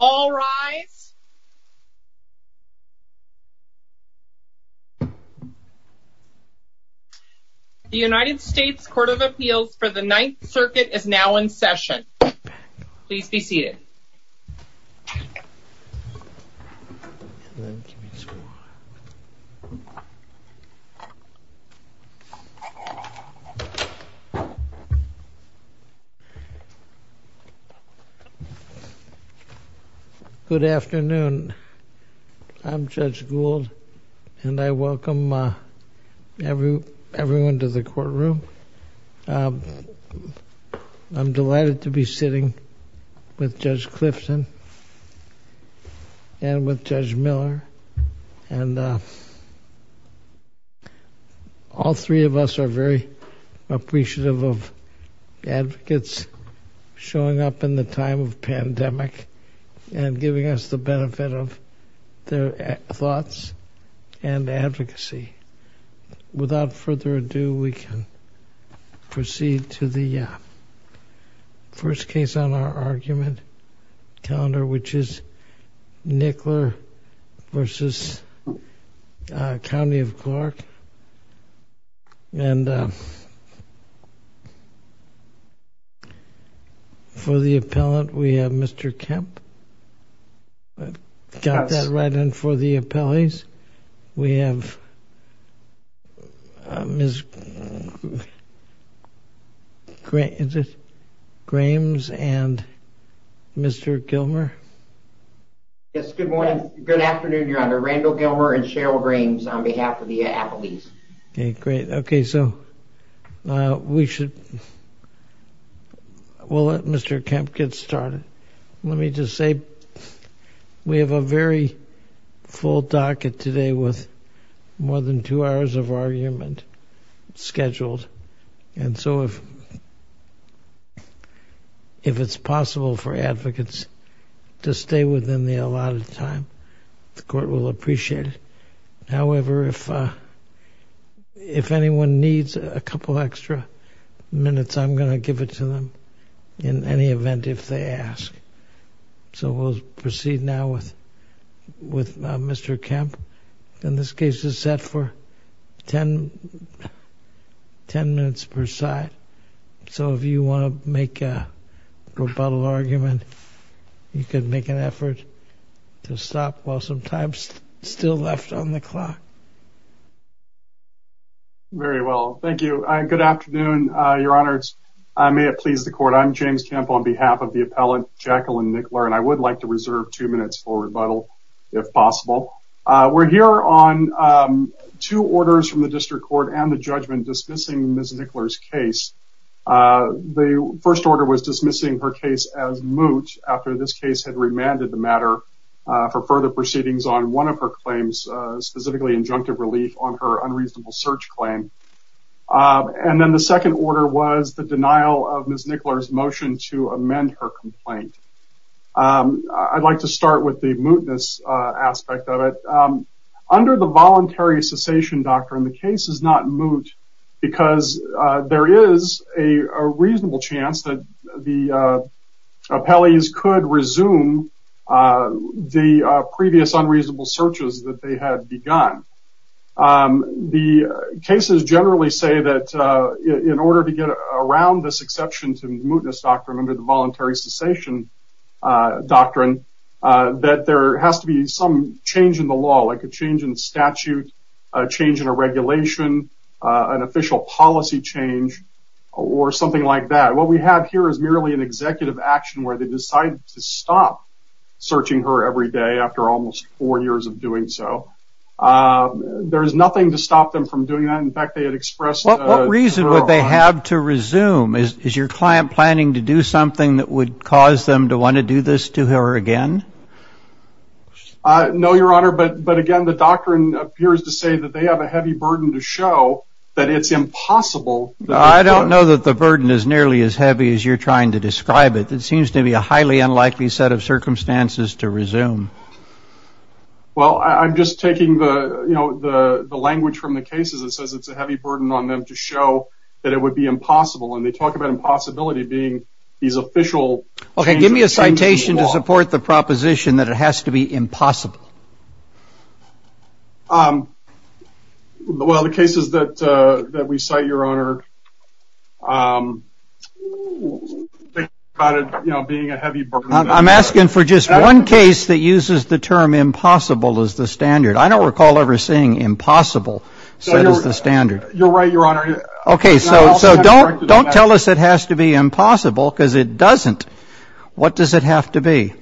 All rise. The United States Court of Appeals for the Ninth Circuit is now in session. Please be seated. Good afternoon. I'm Judge Gould, and I welcome everyone to the courtroom. I'm delighted to be sitting with Judge Clifton and with Judge Miller. And all three of us are very appreciative of advocates showing up in the time of pandemic and giving us the benefit of their thoughts and advocacy. Without further ado, we can proceed to the first case on our argument calendar, which is Nickler v. County of Clark. For the appellant, we have Mr. Kemp. I've got that right in for the appellees. We have Ms. Grahams and Mr. Gilmer. Yes, good morning. Good afternoon, Your Honor. Randall Gilmer and Cheryl Grahams on behalf of the appellees. Okay, great. Okay, so we should... We'll let Mr. Kemp get started. Let me just say we have a very full docket today with more than two hours of argument scheduled. And so if it's possible for advocates to stay with me a lot of time, the court will appreciate it. However, if anyone needs a couple extra minutes, I'm going to give it to them in any event if they ask. So we'll proceed now with Mr. Kemp. And this case is set for ten minutes per side. So if you want to make a rebuttal argument, you can make an effort to stop while some time is still left on the clock. Very well, thank you. Good afternoon, Your Honors. May it please the court, I'm James Kemp on behalf of the appellant, Jacqueline Nickler. And I would like to reserve two minutes for rebuttal, if possible. We're here on two orders from the district court and the judgment dismissing Ms. Nickler's case. The first order was dismissing her case as moot after this case had remanded the matter for further proceedings on one of her claims, specifically injunctive relief on her unreasonable search claim. And then the second order was the denial of Ms. Nickler's motion to amend her complaint. I'd like to start with the mootness aspect of it. Under the voluntary cessation doctrine, the case is not moot, because there is a reasonable chance that the appellees could resume the previous unreasonable searches that they had begun. The cases generally say that in order to get around this exception to the mootness doctrine under the voluntary cessation doctrine, that there has to be some change in the law, like a change in statute, a change in a regulation, an official policy change, or something like that. What we have here is merely an executive action where they decide to stop searching her every day after almost four years of doing so. There is nothing to stop them from doing that. In fact, they had expressed... What reason would they have to resume? Is your client planning to do something that would cause them to want to do this to her again? No, Your Honor, but again, the doctrine appears to say that they have a heavy burden to show that it's impossible... I don't know that the burden is nearly as heavy as you're trying to describe it. It seems to be a highly unlikely set of circumstances to resume. Well, I'm just taking the language from the cases. It says it's a heavy burden on them to show that it would be impossible, and they talk about impossibility being these official... Okay, give me a citation to support the proposition that it has to be impossible. Well, the cases that we cite, Your Honor, think about it being a heavy burden. I'm asking for just one case that uses the term impossible as the standard. I don't recall ever seeing impossible set as the standard. You're right, Your Honor. Okay, so don't tell us it has to be impossible because it doesn't. What does it have to be?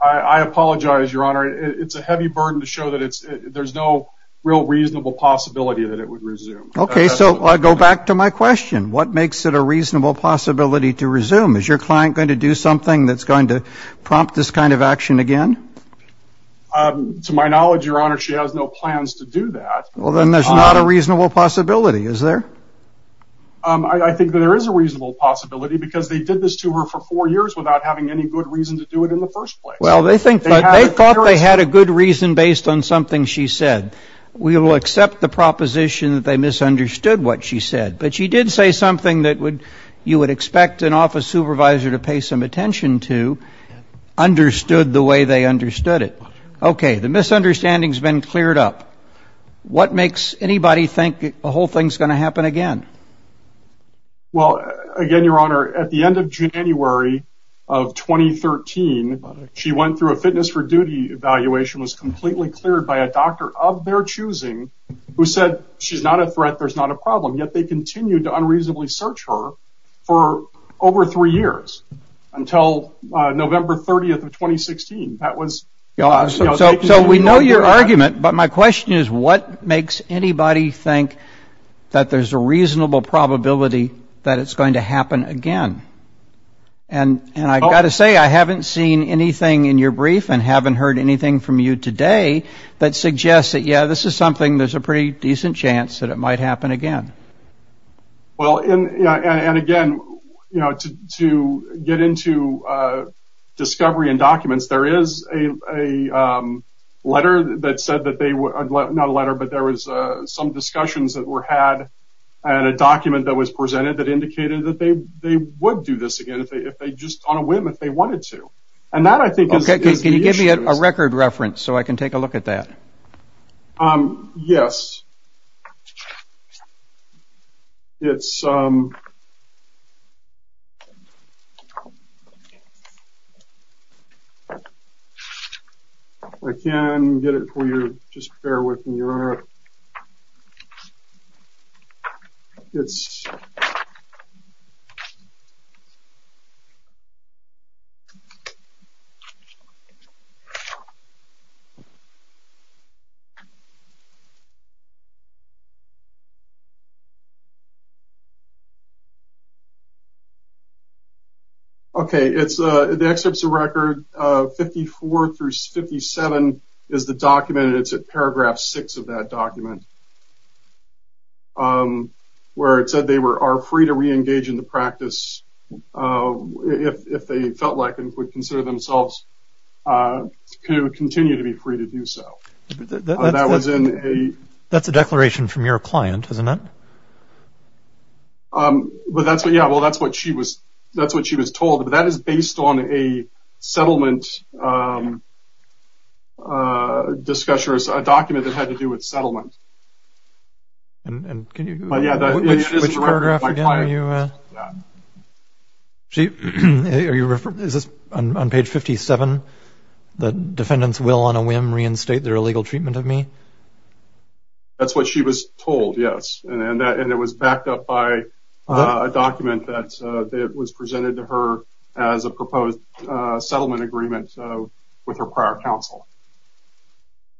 I apologize, Your Honor. It's a heavy burden to show that there's no real reasonable possibility that it would resume. Okay, so I go back to my question. What makes it a reasonable possibility to resume? Is your client going to do something that's going to prompt this kind of action again? To my knowledge, Your Honor, she has no plans to do that. Well, then there's not a reasonable possibility, is there? I think that there is a reasonable possibility because they did this to her for four years without having any good reason to do it in the first place. Well, they thought they had a good reason based on something she said. We will accept the proposition that they misunderstood what she said. But she did say something that you would expect an office supervisor to pay some attention to, understood the way they understood it. Okay, the misunderstanding's been cleared up. What makes anybody think a whole thing's going to happen again? Well, again, Your Honor, at the end of January of 2013, she went through a fitness for duty evaluation, was completely cleared by a doctor of their choosing who said she's not a threat, there's not a problem. Yet they continued to unreasonably search her for over three years until November 30th of 2016. So we know your argument, but my question is what makes anybody think that there's a reasonable probability that it's going to happen again? And I've got to say, I haven't seen anything in your brief and haven't heard anything from you today that suggests that, yeah, this is something, there's a pretty decent chance that it might happen again. Well, and again, to get into discovery and documents, there is a letter that said that they, not a letter, but there was some discussions that were had at a document that was presented that indicated that they would do this again, if they just, on a whim, if they wanted to. And that, I think, is the issue. Okay, can you give me a record reference so I can take a look at that? Yes. It's... I can get it for you. Just bear with me. All right. It's... Okay. It's the excerpts of record 54 through 57 is the document, and it's at paragraph 6 of that document, where it said they are free to re-engage in the practice if they felt like and would consider themselves to continue to be free to do so. That was in a... That's a declaration from your client, isn't it? But that's what, yeah, well, that's what she was told. But that is based on a settlement discussion, a document that had to do with settlement. And can you... Which paragraph again are you... Yeah. Are you referring, is this on page 57, that defendants will, on a whim, reinstate their illegal treatment of me? That's what she was told, yes. And it was backed up by a document that was presented to her as a proposed settlement agreement with her prior counsel.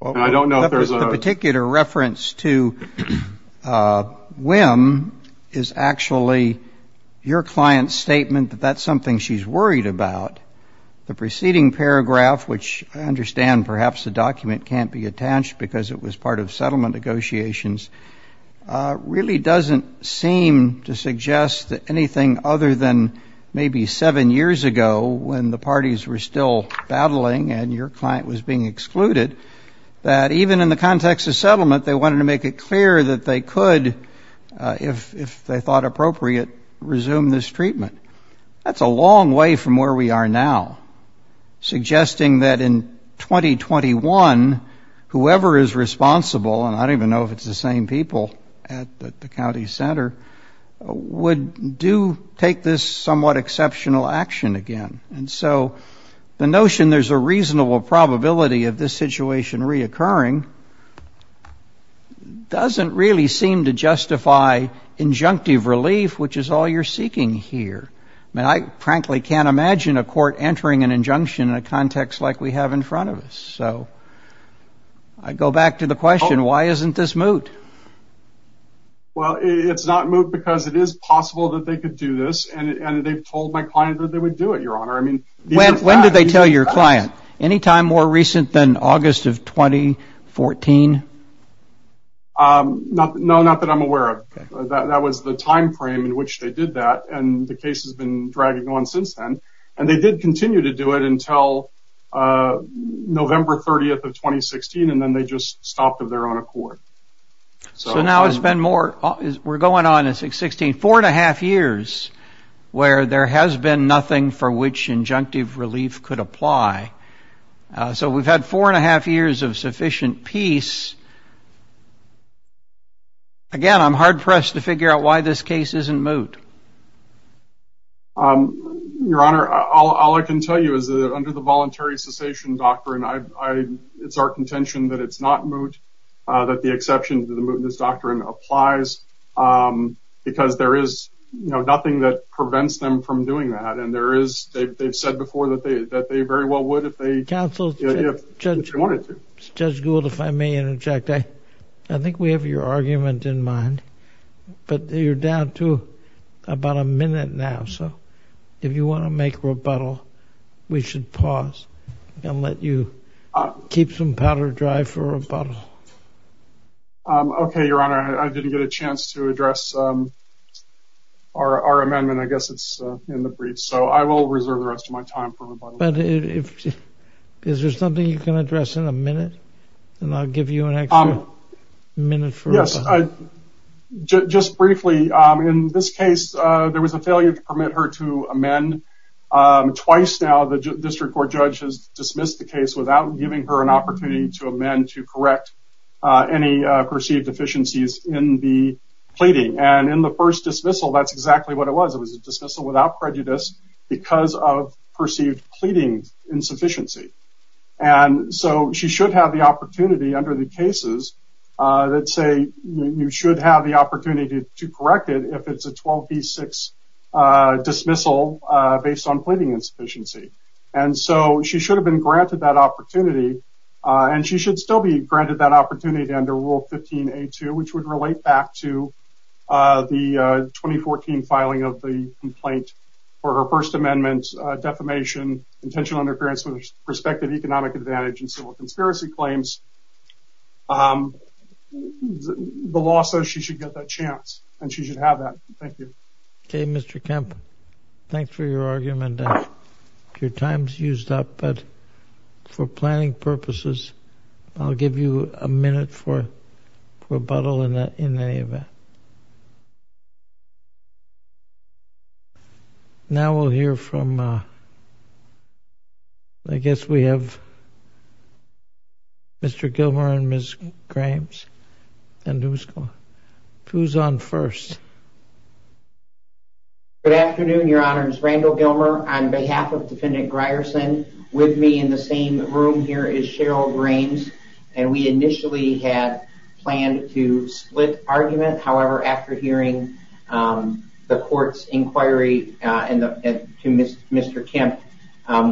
And I don't know if there's a... The particular reference to whim is actually your client's statement that that's something she's worried about. The preceding paragraph, which I understand perhaps the document can't be attached because it was part of settlement negotiations, really doesn't seem to suggest that anything other than maybe seven years ago, when the parties were still battling and your client was being excluded, that even in the context of settlement, they wanted to make it clear that they could, if they thought appropriate, resume this treatment. That's a long way from where we are now, suggesting that in 2021, whoever is responsible, and I don't even know if it's the same people at the county center, would do take this somewhat exceptional action again. And so the notion there's a reasonable probability of this situation reoccurring doesn't really seem to justify injunctive relief, which is all you're seeking here. I mean, I frankly can't imagine a court entering an injunction in a context like we have in front of us. So I go back to the question, why isn't this moot? Well, it's not moot because it is possible that they could do this. And they've told my client that they would do it, Your Honor. When did they tell your client? Any time more recent than August of 2014? No, not that I'm aware of. That was the time frame in which they did that. And the case has been dragging on since then. And they did continue to do it until November 30th of 2016. And then they just stopped their own accord. So now it's been more, we're going on, it's like 16, four and a half years, where there has been nothing for which injunctive relief could apply. So we've had four and a half years of sufficient peace. Again, I'm hard pressed to figure out why this case isn't moot. Your Honor, all I can tell you is that under the voluntary cessation doctrine, it's our contention that it's not moot, that the exception to the mootness doctrine applies, because there is nothing that prevents them from doing that. And they've said before that they very well would if they wanted to. Counsel, Judge Gould, if I may interject, I think we have your argument in mind, but you're down to about a minute now. If you want to make rebuttal, we should pause and let you keep some powder dry for rebuttal. Okay, Your Honor, I didn't get a chance to address our amendment. I guess it's in the briefs, so I will reserve the rest of my time for rebuttal. Is there something you can address in a minute? And I'll give you an extra minute for rebuttal. Just briefly, in this case, there was a failure to permit her to amend. Twice now, the district court judge has dismissed the case without giving her an opportunity to amend to correct any perceived deficiencies in the pleading. And in the first dismissal, that's exactly what it was. It was a dismissal without prejudice because of perceived pleading insufficiency. And so she should have the opportunity under the cases that say you should have the opportunity to correct it if it's a 12B6 dismissal based on pleading insufficiency. And so she should have been granted that opportunity, and she should still be granted that opportunity under Rule 15A2, which would relate back to the 2014 filing of the complaint for her First Amendment defamation, intentional interference with her respective economic advantage and civil conspiracy claims. The law says she should get that chance, and she should have that. Thank you. Okay, Mr. Kemp. Thanks for your argument. Your time's used up, but for planning purposes, I'll give you a minute for rebuttal in any event. Now we'll hear from, I guess we have Mr. Gilmer and Ms. Grahams. And who's on first? Good afternoon, Your Honors. Randall Gilmer on behalf of Defendant Grierson. With me in the same room here is Cheryl Grahams, And we initially had planned to split argument. However, after hearing the court's inquiry to Mr. Kemp,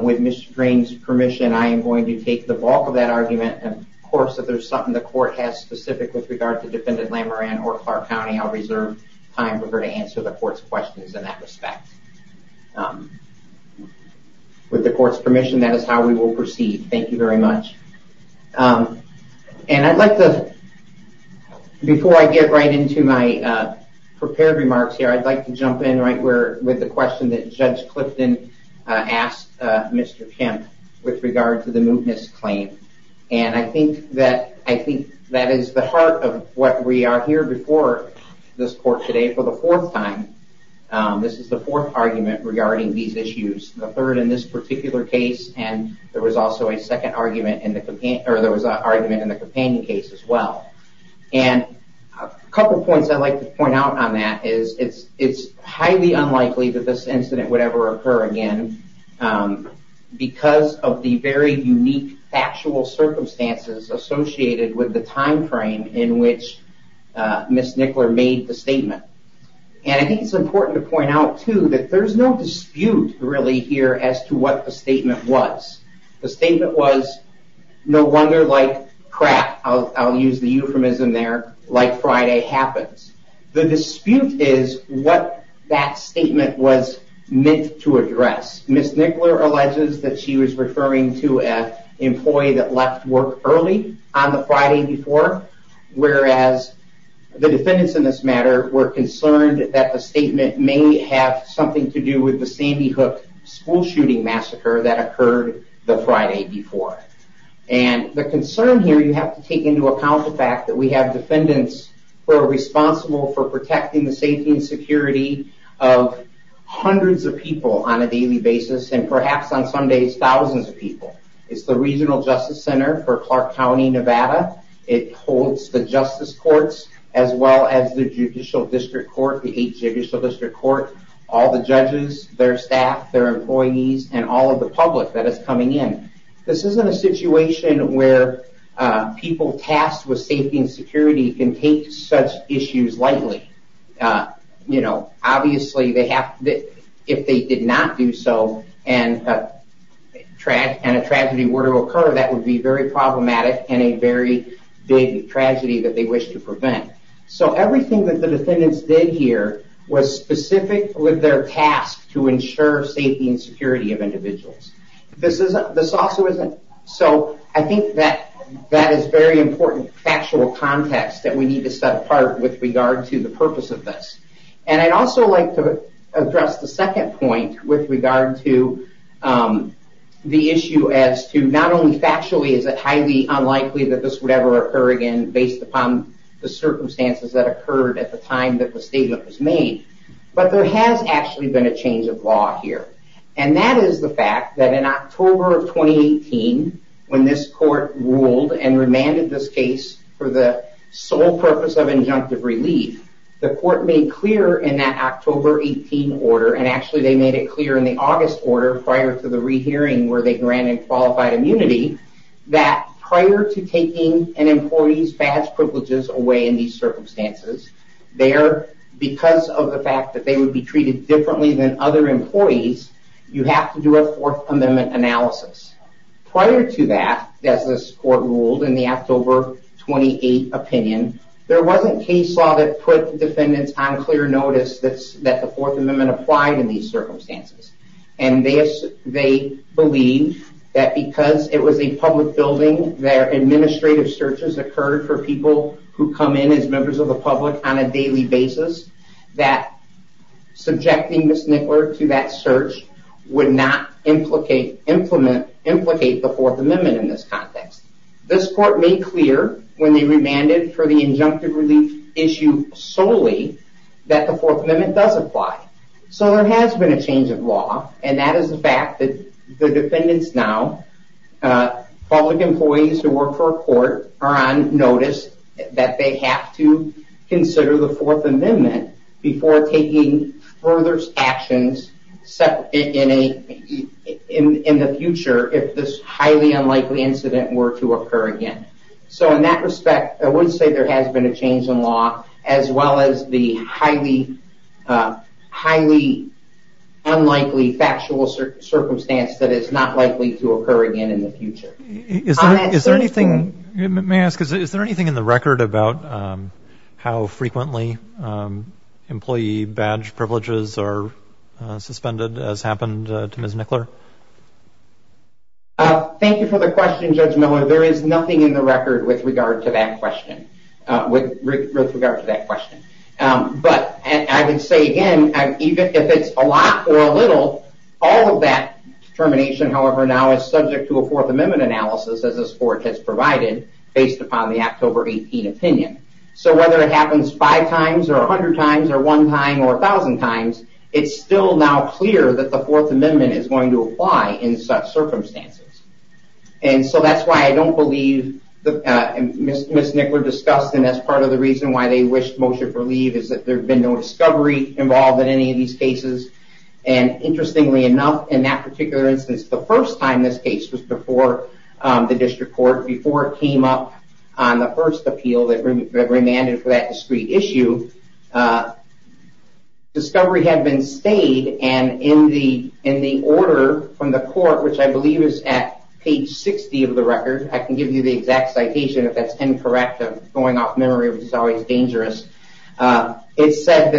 with Ms. Grahams' permission, I am going to take the bulk of that argument. Of course, if there's something the court has specific with regard to Defendant Lamouran or Clark County, I'll reserve time for her to answer the court's questions in that respect. With the court's permission, that is how we will proceed. Thank you very much. And I'd like to, before I get right into my prepared remarks here, I'd like to jump in with the question that Judge Clifton asked Mr. Kemp with regard to the mootness claim. And I think that is the heart of what we are here before this court today for the fourth time. This is the fourth argument regarding these issues. The third in this particular case, and there was also a second argument, or there was an argument in the companion case as well. And a couple points I'd like to point out on that is it's highly unlikely that this incident would ever occur again because of the very unique factual circumstances associated with the time frame in which Ms. Nickler made the statement. And I think it's important to point out too that there's no dispute really here as to what the statement was. The statement was, no wonder like crap, I'll use the euphemism there, like Friday happens. The dispute is what that statement was meant to address. Ms. Nickler alleges that she was referring to an employee that left work early on the Friday before, whereas the defendants in this matter were concerned that the statement may have something to do with the Sandy Hook school shooting massacre that occurred the Friday before. And the concern here, you have to take into account the fact that we have defendants who are responsible for protecting the safety and security of hundreds of people on a daily basis and perhaps on some days thousands of people. It's the Regional Justice Center for Clark County, Nevada. It holds the Justice Courts as well as the Judicial District Court, the eight Judicial District Courts, all the judges, their staff, their employees, and all of the public that is coming in. This isn't a situation where people tasked with safety and security can take such issues lightly. Obviously, if they did not do so and a tragedy were to occur, that would be very problematic and a very big tragedy that they wish to prevent. So everything that the defendants did here was specific with their task to ensure safety and security of individuals. This also isn't. So I think that that is very important factual context that we need to set apart with regard to the purpose of this. And I'd also like to address the second point with regard to the issue as to not only factually is it highly unlikely that this would ever occur again based upon the circumstances that occurred at the time that the statement was made, but there has actually been a change of law here. And that is the fact that in October of 2018, when this court ruled and remanded this case for the sole purpose of injunctive relief, the court made clear in that October 18 order, and actually they made it clear in the August order prior to the rehearing where they granted qualified immunity, that prior to taking an employee's badge privileges away in these circumstances, there, because of the fact that they would be treated differently than other employees, you have to do a Fourth Amendment analysis. Prior to that, as this court ruled in the October 28 opinion, there wasn't case law that put defendants on clear notice that the Fourth Amendment applied in these circumstances. And they believe that because it was a public building, their administrative searches occurred for people who come in as members of the public on a daily basis, that subjecting Ms. Nickler to that search would not implicate the Fourth Amendment in this context. This court made clear when they remanded for the injunctive relief issue solely that the Fourth Amendment does apply. So there has been a change of law, and that is the fact that the defendants now, public employees who work for a court are on notice that they have to consider the Fourth Amendment before taking further actions in the future if this highly unlikely incident were to occur again. So in that respect, I would say there has been a change in law, as well as the highly, highly unlikely factual circumstance that is not likely to occur again in the future. Is there anything, may I ask, is there anything in the record about how frequently employee badge privileges are suspended, as happened to Ms. Nickler? Thank you for the question, Judge Miller. There is nothing in the record with regard to that question. But I would say again, if it's a lot or a little, all of that determination, however, now is subject to a Fourth Amendment analysis, as this court has provided, based upon the October 18 opinion. So whether it happens five times or a hundred times or one time or a thousand times, it's still now clear that the Fourth Amendment is going to apply in such circumstances. And so that's why I don't believe Ms. Nickler discussed, and that's part of the reason why they wished motion for leave, is that there had been no discovery involved in any of these cases. And interestingly enough, in that particular instance, the first time this case was before the district court, before it came up on the first appeal that remanded for that discrete issue, discovery had been stayed. And in the order from the court, which I believe is at page 60 of the record, I can give you the exact citation if that's incorrect. I'm going off memory, which is always dangerous. It said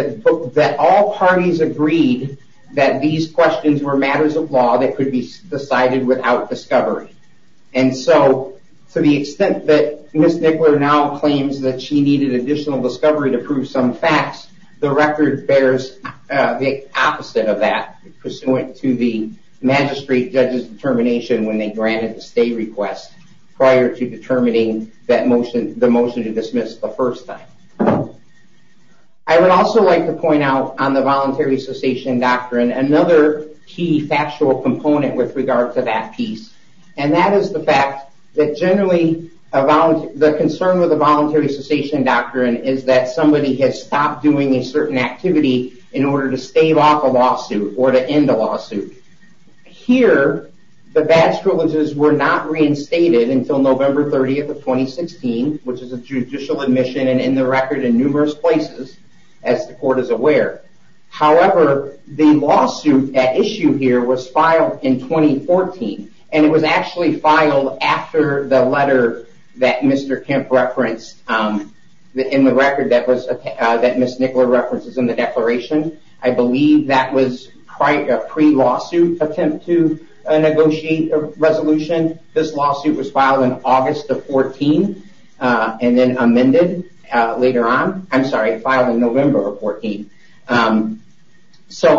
that all parties agreed that these questions were matters of law that could be decided without discovery. And so to the extent that Ms. Nickler now claims that she needed additional discovery to prove some facts, the record bears the opposite of that, pursuant to the magistrate judge's determination when they granted the stay request prior to determining the motion to dismiss the first time. I would also like to point out on the voluntary cessation doctrine, another key factual component with regard to that piece, and that is the fact that generally the concern with the voluntary cessation doctrine is that somebody has stopped doing a certain activity in order to stave off a lawsuit or to end a lawsuit. Here, the badge privileges were not reinstated until November 30th of 2016, which is a judicial admission and in the record in numerous places, as the court is aware. However, the lawsuit at issue here was filed in 2014, and it was actually filed after the letter that Mr. Kemp referenced in the record that Ms. Nickler references in the declaration. I believe that was a pre-lawsuit attempt to negotiate a resolution. This lawsuit was filed in August of 2014 and then amended later on. I'm sorry, filed in November of 2014.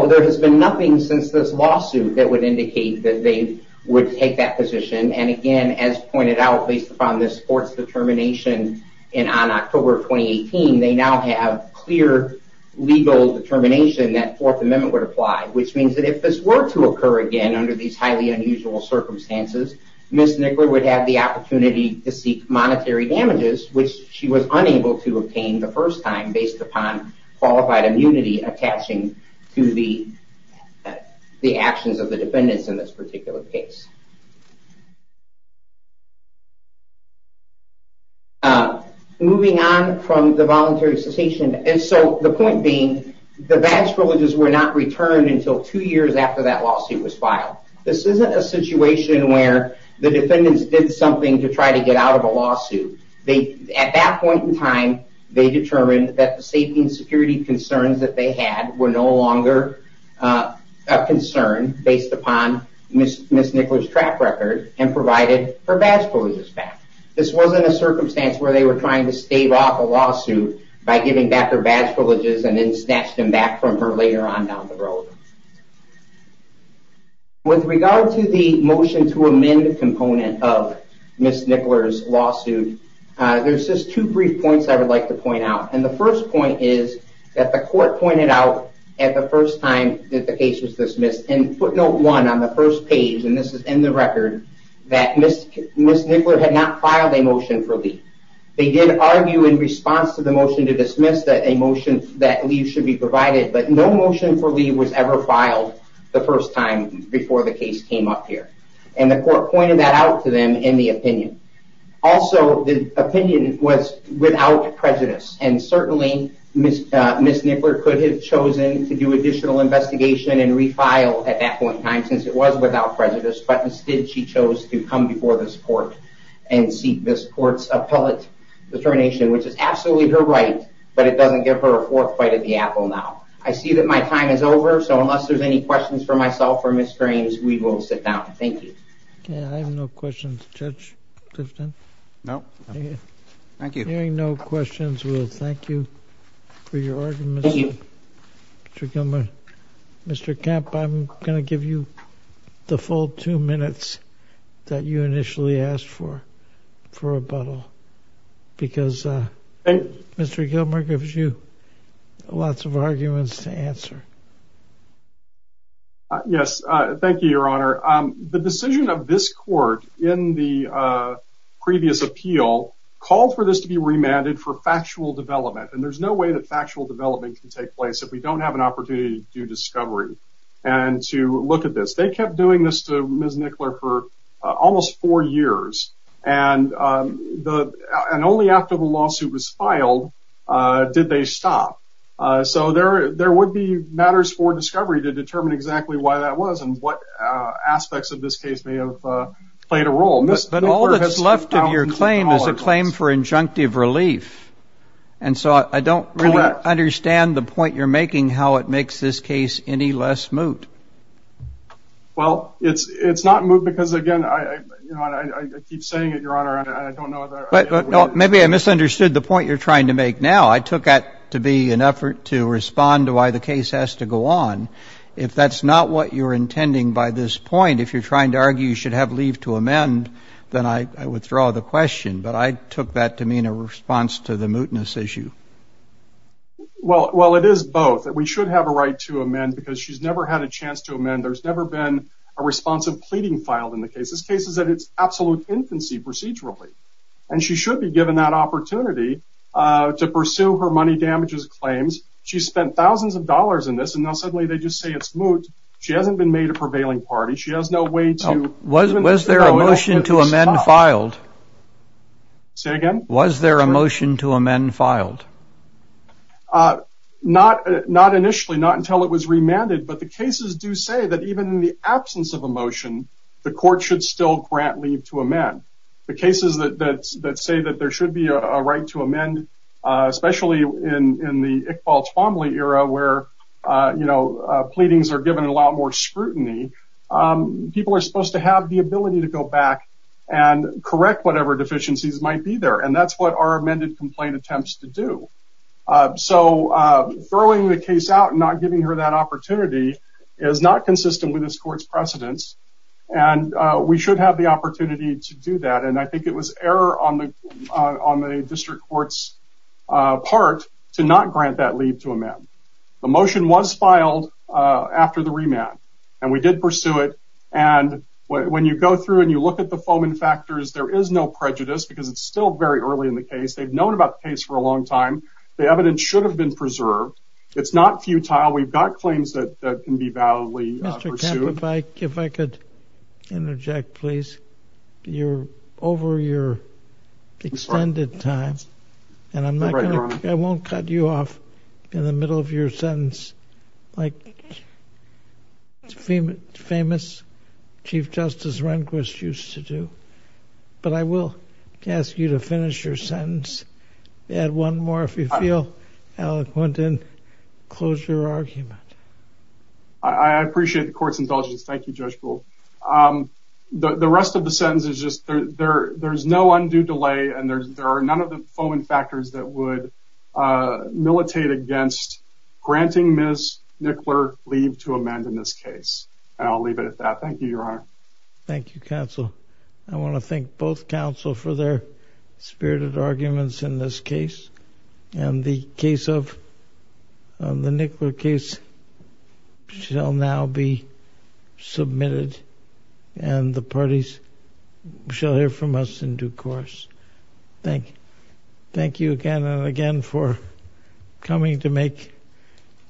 There has been nothing since this lawsuit that would indicate that they would take that position. Again, as pointed out, based upon this court's determination on October of 2018, they now have clear legal determination that Fourth Amendment would apply, which means that if this were to occur again under these highly unusual circumstances, Ms. Nickler would have the opportunity to seek monetary damages, which she was unable to obtain the first time based upon qualified immunity attaching to the actions of the defendants in this particular case. Moving on from the voluntary cessation. The point being, the badge privileges were not returned until two years after that lawsuit was filed. This isn't a situation where the defendants did something to try to get out of a lawsuit. At that point in time, they determined that the safety and security concerns that they had were no longer a concern based upon Ms. Nickler's track record and provided her badge privileges back. This wasn't a circumstance where they were trying to stave off a lawsuit by giving back her badge privileges and then snatched them back from her later on down the road. With regard to the motion to amend component of Ms. Nickler's lawsuit, there's just two brief points I would like to point out. And the first point is that the court pointed out at the first time that the case was dismissed, and footnote one on the first page, and this is in the record, that Ms. Nickler had not filed a motion for leave. They did argue in response to the motion to dismiss that a motion that leave should be provided, but no motion for leave was ever filed the first time before the case came up here. And the court pointed that out to them in the opinion. Also, the opinion was without prejudice, and certainly Ms. Nickler could have chosen to do additional investigation and refile at that point in time since it was without prejudice, but instead she chose to come before this court and seek this court's appellate determination, which is absolutely her right, but it doesn't give her a fourth bite of the apple now. I see that my time is over, so unless there's any questions for myself or Ms. Grames, we will sit down. Thank you. Okay, I have no questions. Judge Clifton? No, thank you. Hearing no questions, we'll thank you for your argument, Mr. Gilman. Mr. Kemp, I'm going to give you the full two minutes that you initially asked for for rebuttal because Mr. Gilman gives you lots of arguments to answer. Yes, thank you, Your Honor. The decision of this court in the previous appeal called for this to be remanded for factual development, and there's no way that factual development can take place if we don't have an opportunity to do discovery and to look at this. They kept doing this to Ms. Nickler for almost four years, and only after the lawsuit was filed did they stop. So there would be matters for discovery to determine exactly why that was and what aspects of this case may have played a role. But all that's left of your claim is a claim for injunctive relief, and so I don't really understand the point you're making, how it makes this case any less moot. Well, it's not moot because, again, I keep saying it, Your Honor, and I don't know that it is. Maybe I misunderstood the point you're trying to make now. I took that to be an effort to respond to why the case has to go on. If that's not what you're intending by this point, if you're trying to argue you should have leave to amend, then I withdraw the question, but I took that to mean a response to the mootness issue. Well, it is both. We should have a right to amend because she's never had a chance to amend. There's never been a response of pleading filed in the case. This case is at its absolute infancy procedurally, and she should be given that opportunity to pursue her money damages claims. She spent thousands of dollars in this, and now suddenly they just say it's moot. She hasn't been made a prevailing party. Was there a motion to amend filed? Say again? Was there a motion to amend filed? Not initially, not until it was remanded, but the cases do say that even in the absence of a motion, the court should still grant leave to amend. The cases that say that there should be a right to amend, especially in the Iqbal Twombly era where pleadings are given a lot more scrutiny, people are supposed to have the ability to go back and correct whatever deficiencies might be there, and that's what our amended complaint attempts to do. So throwing the case out and not giving her that opportunity is not consistent with this court's precedence, and we should have the opportunity to do that, and I think it was error on the district court's part to not grant that leave to amend. The motion was filed after the remand, and we did pursue it, and when you go through and you look at the foaming factors, there is no prejudice because it's still very early in the case. They've known about the case for a long time. The evidence should have been preserved. It's not futile. We've got claims that can be validly pursued. Mr. Kemp, if I could interject, please. You're over your extended time, and I won't cut you off in the middle of your sentence like the famous Chief Justice Rehnquist used to do, but I will ask you to finish your sentence. Add one more if you feel eloquent, and close your argument. I appreciate the court's indulgence. Thank you, Judge Gould. The rest of the sentence is just there's no undue delay, and there are none of the foaming factors that would militate against granting Ms. Nickler leave to amend in this case, and I'll leave it at that. Thank you, Your Honor. Thank you, counsel. I want to thank both counsel for their spirited arguments in this case, and the case of the Nickler case shall now be submitted, and the parties shall hear from us in due course. Thank you again and again for coming to make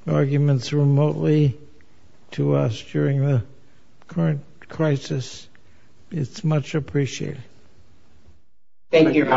arguments remotely to us during the current crisis. It's much appreciated. Thank you, Your Honor.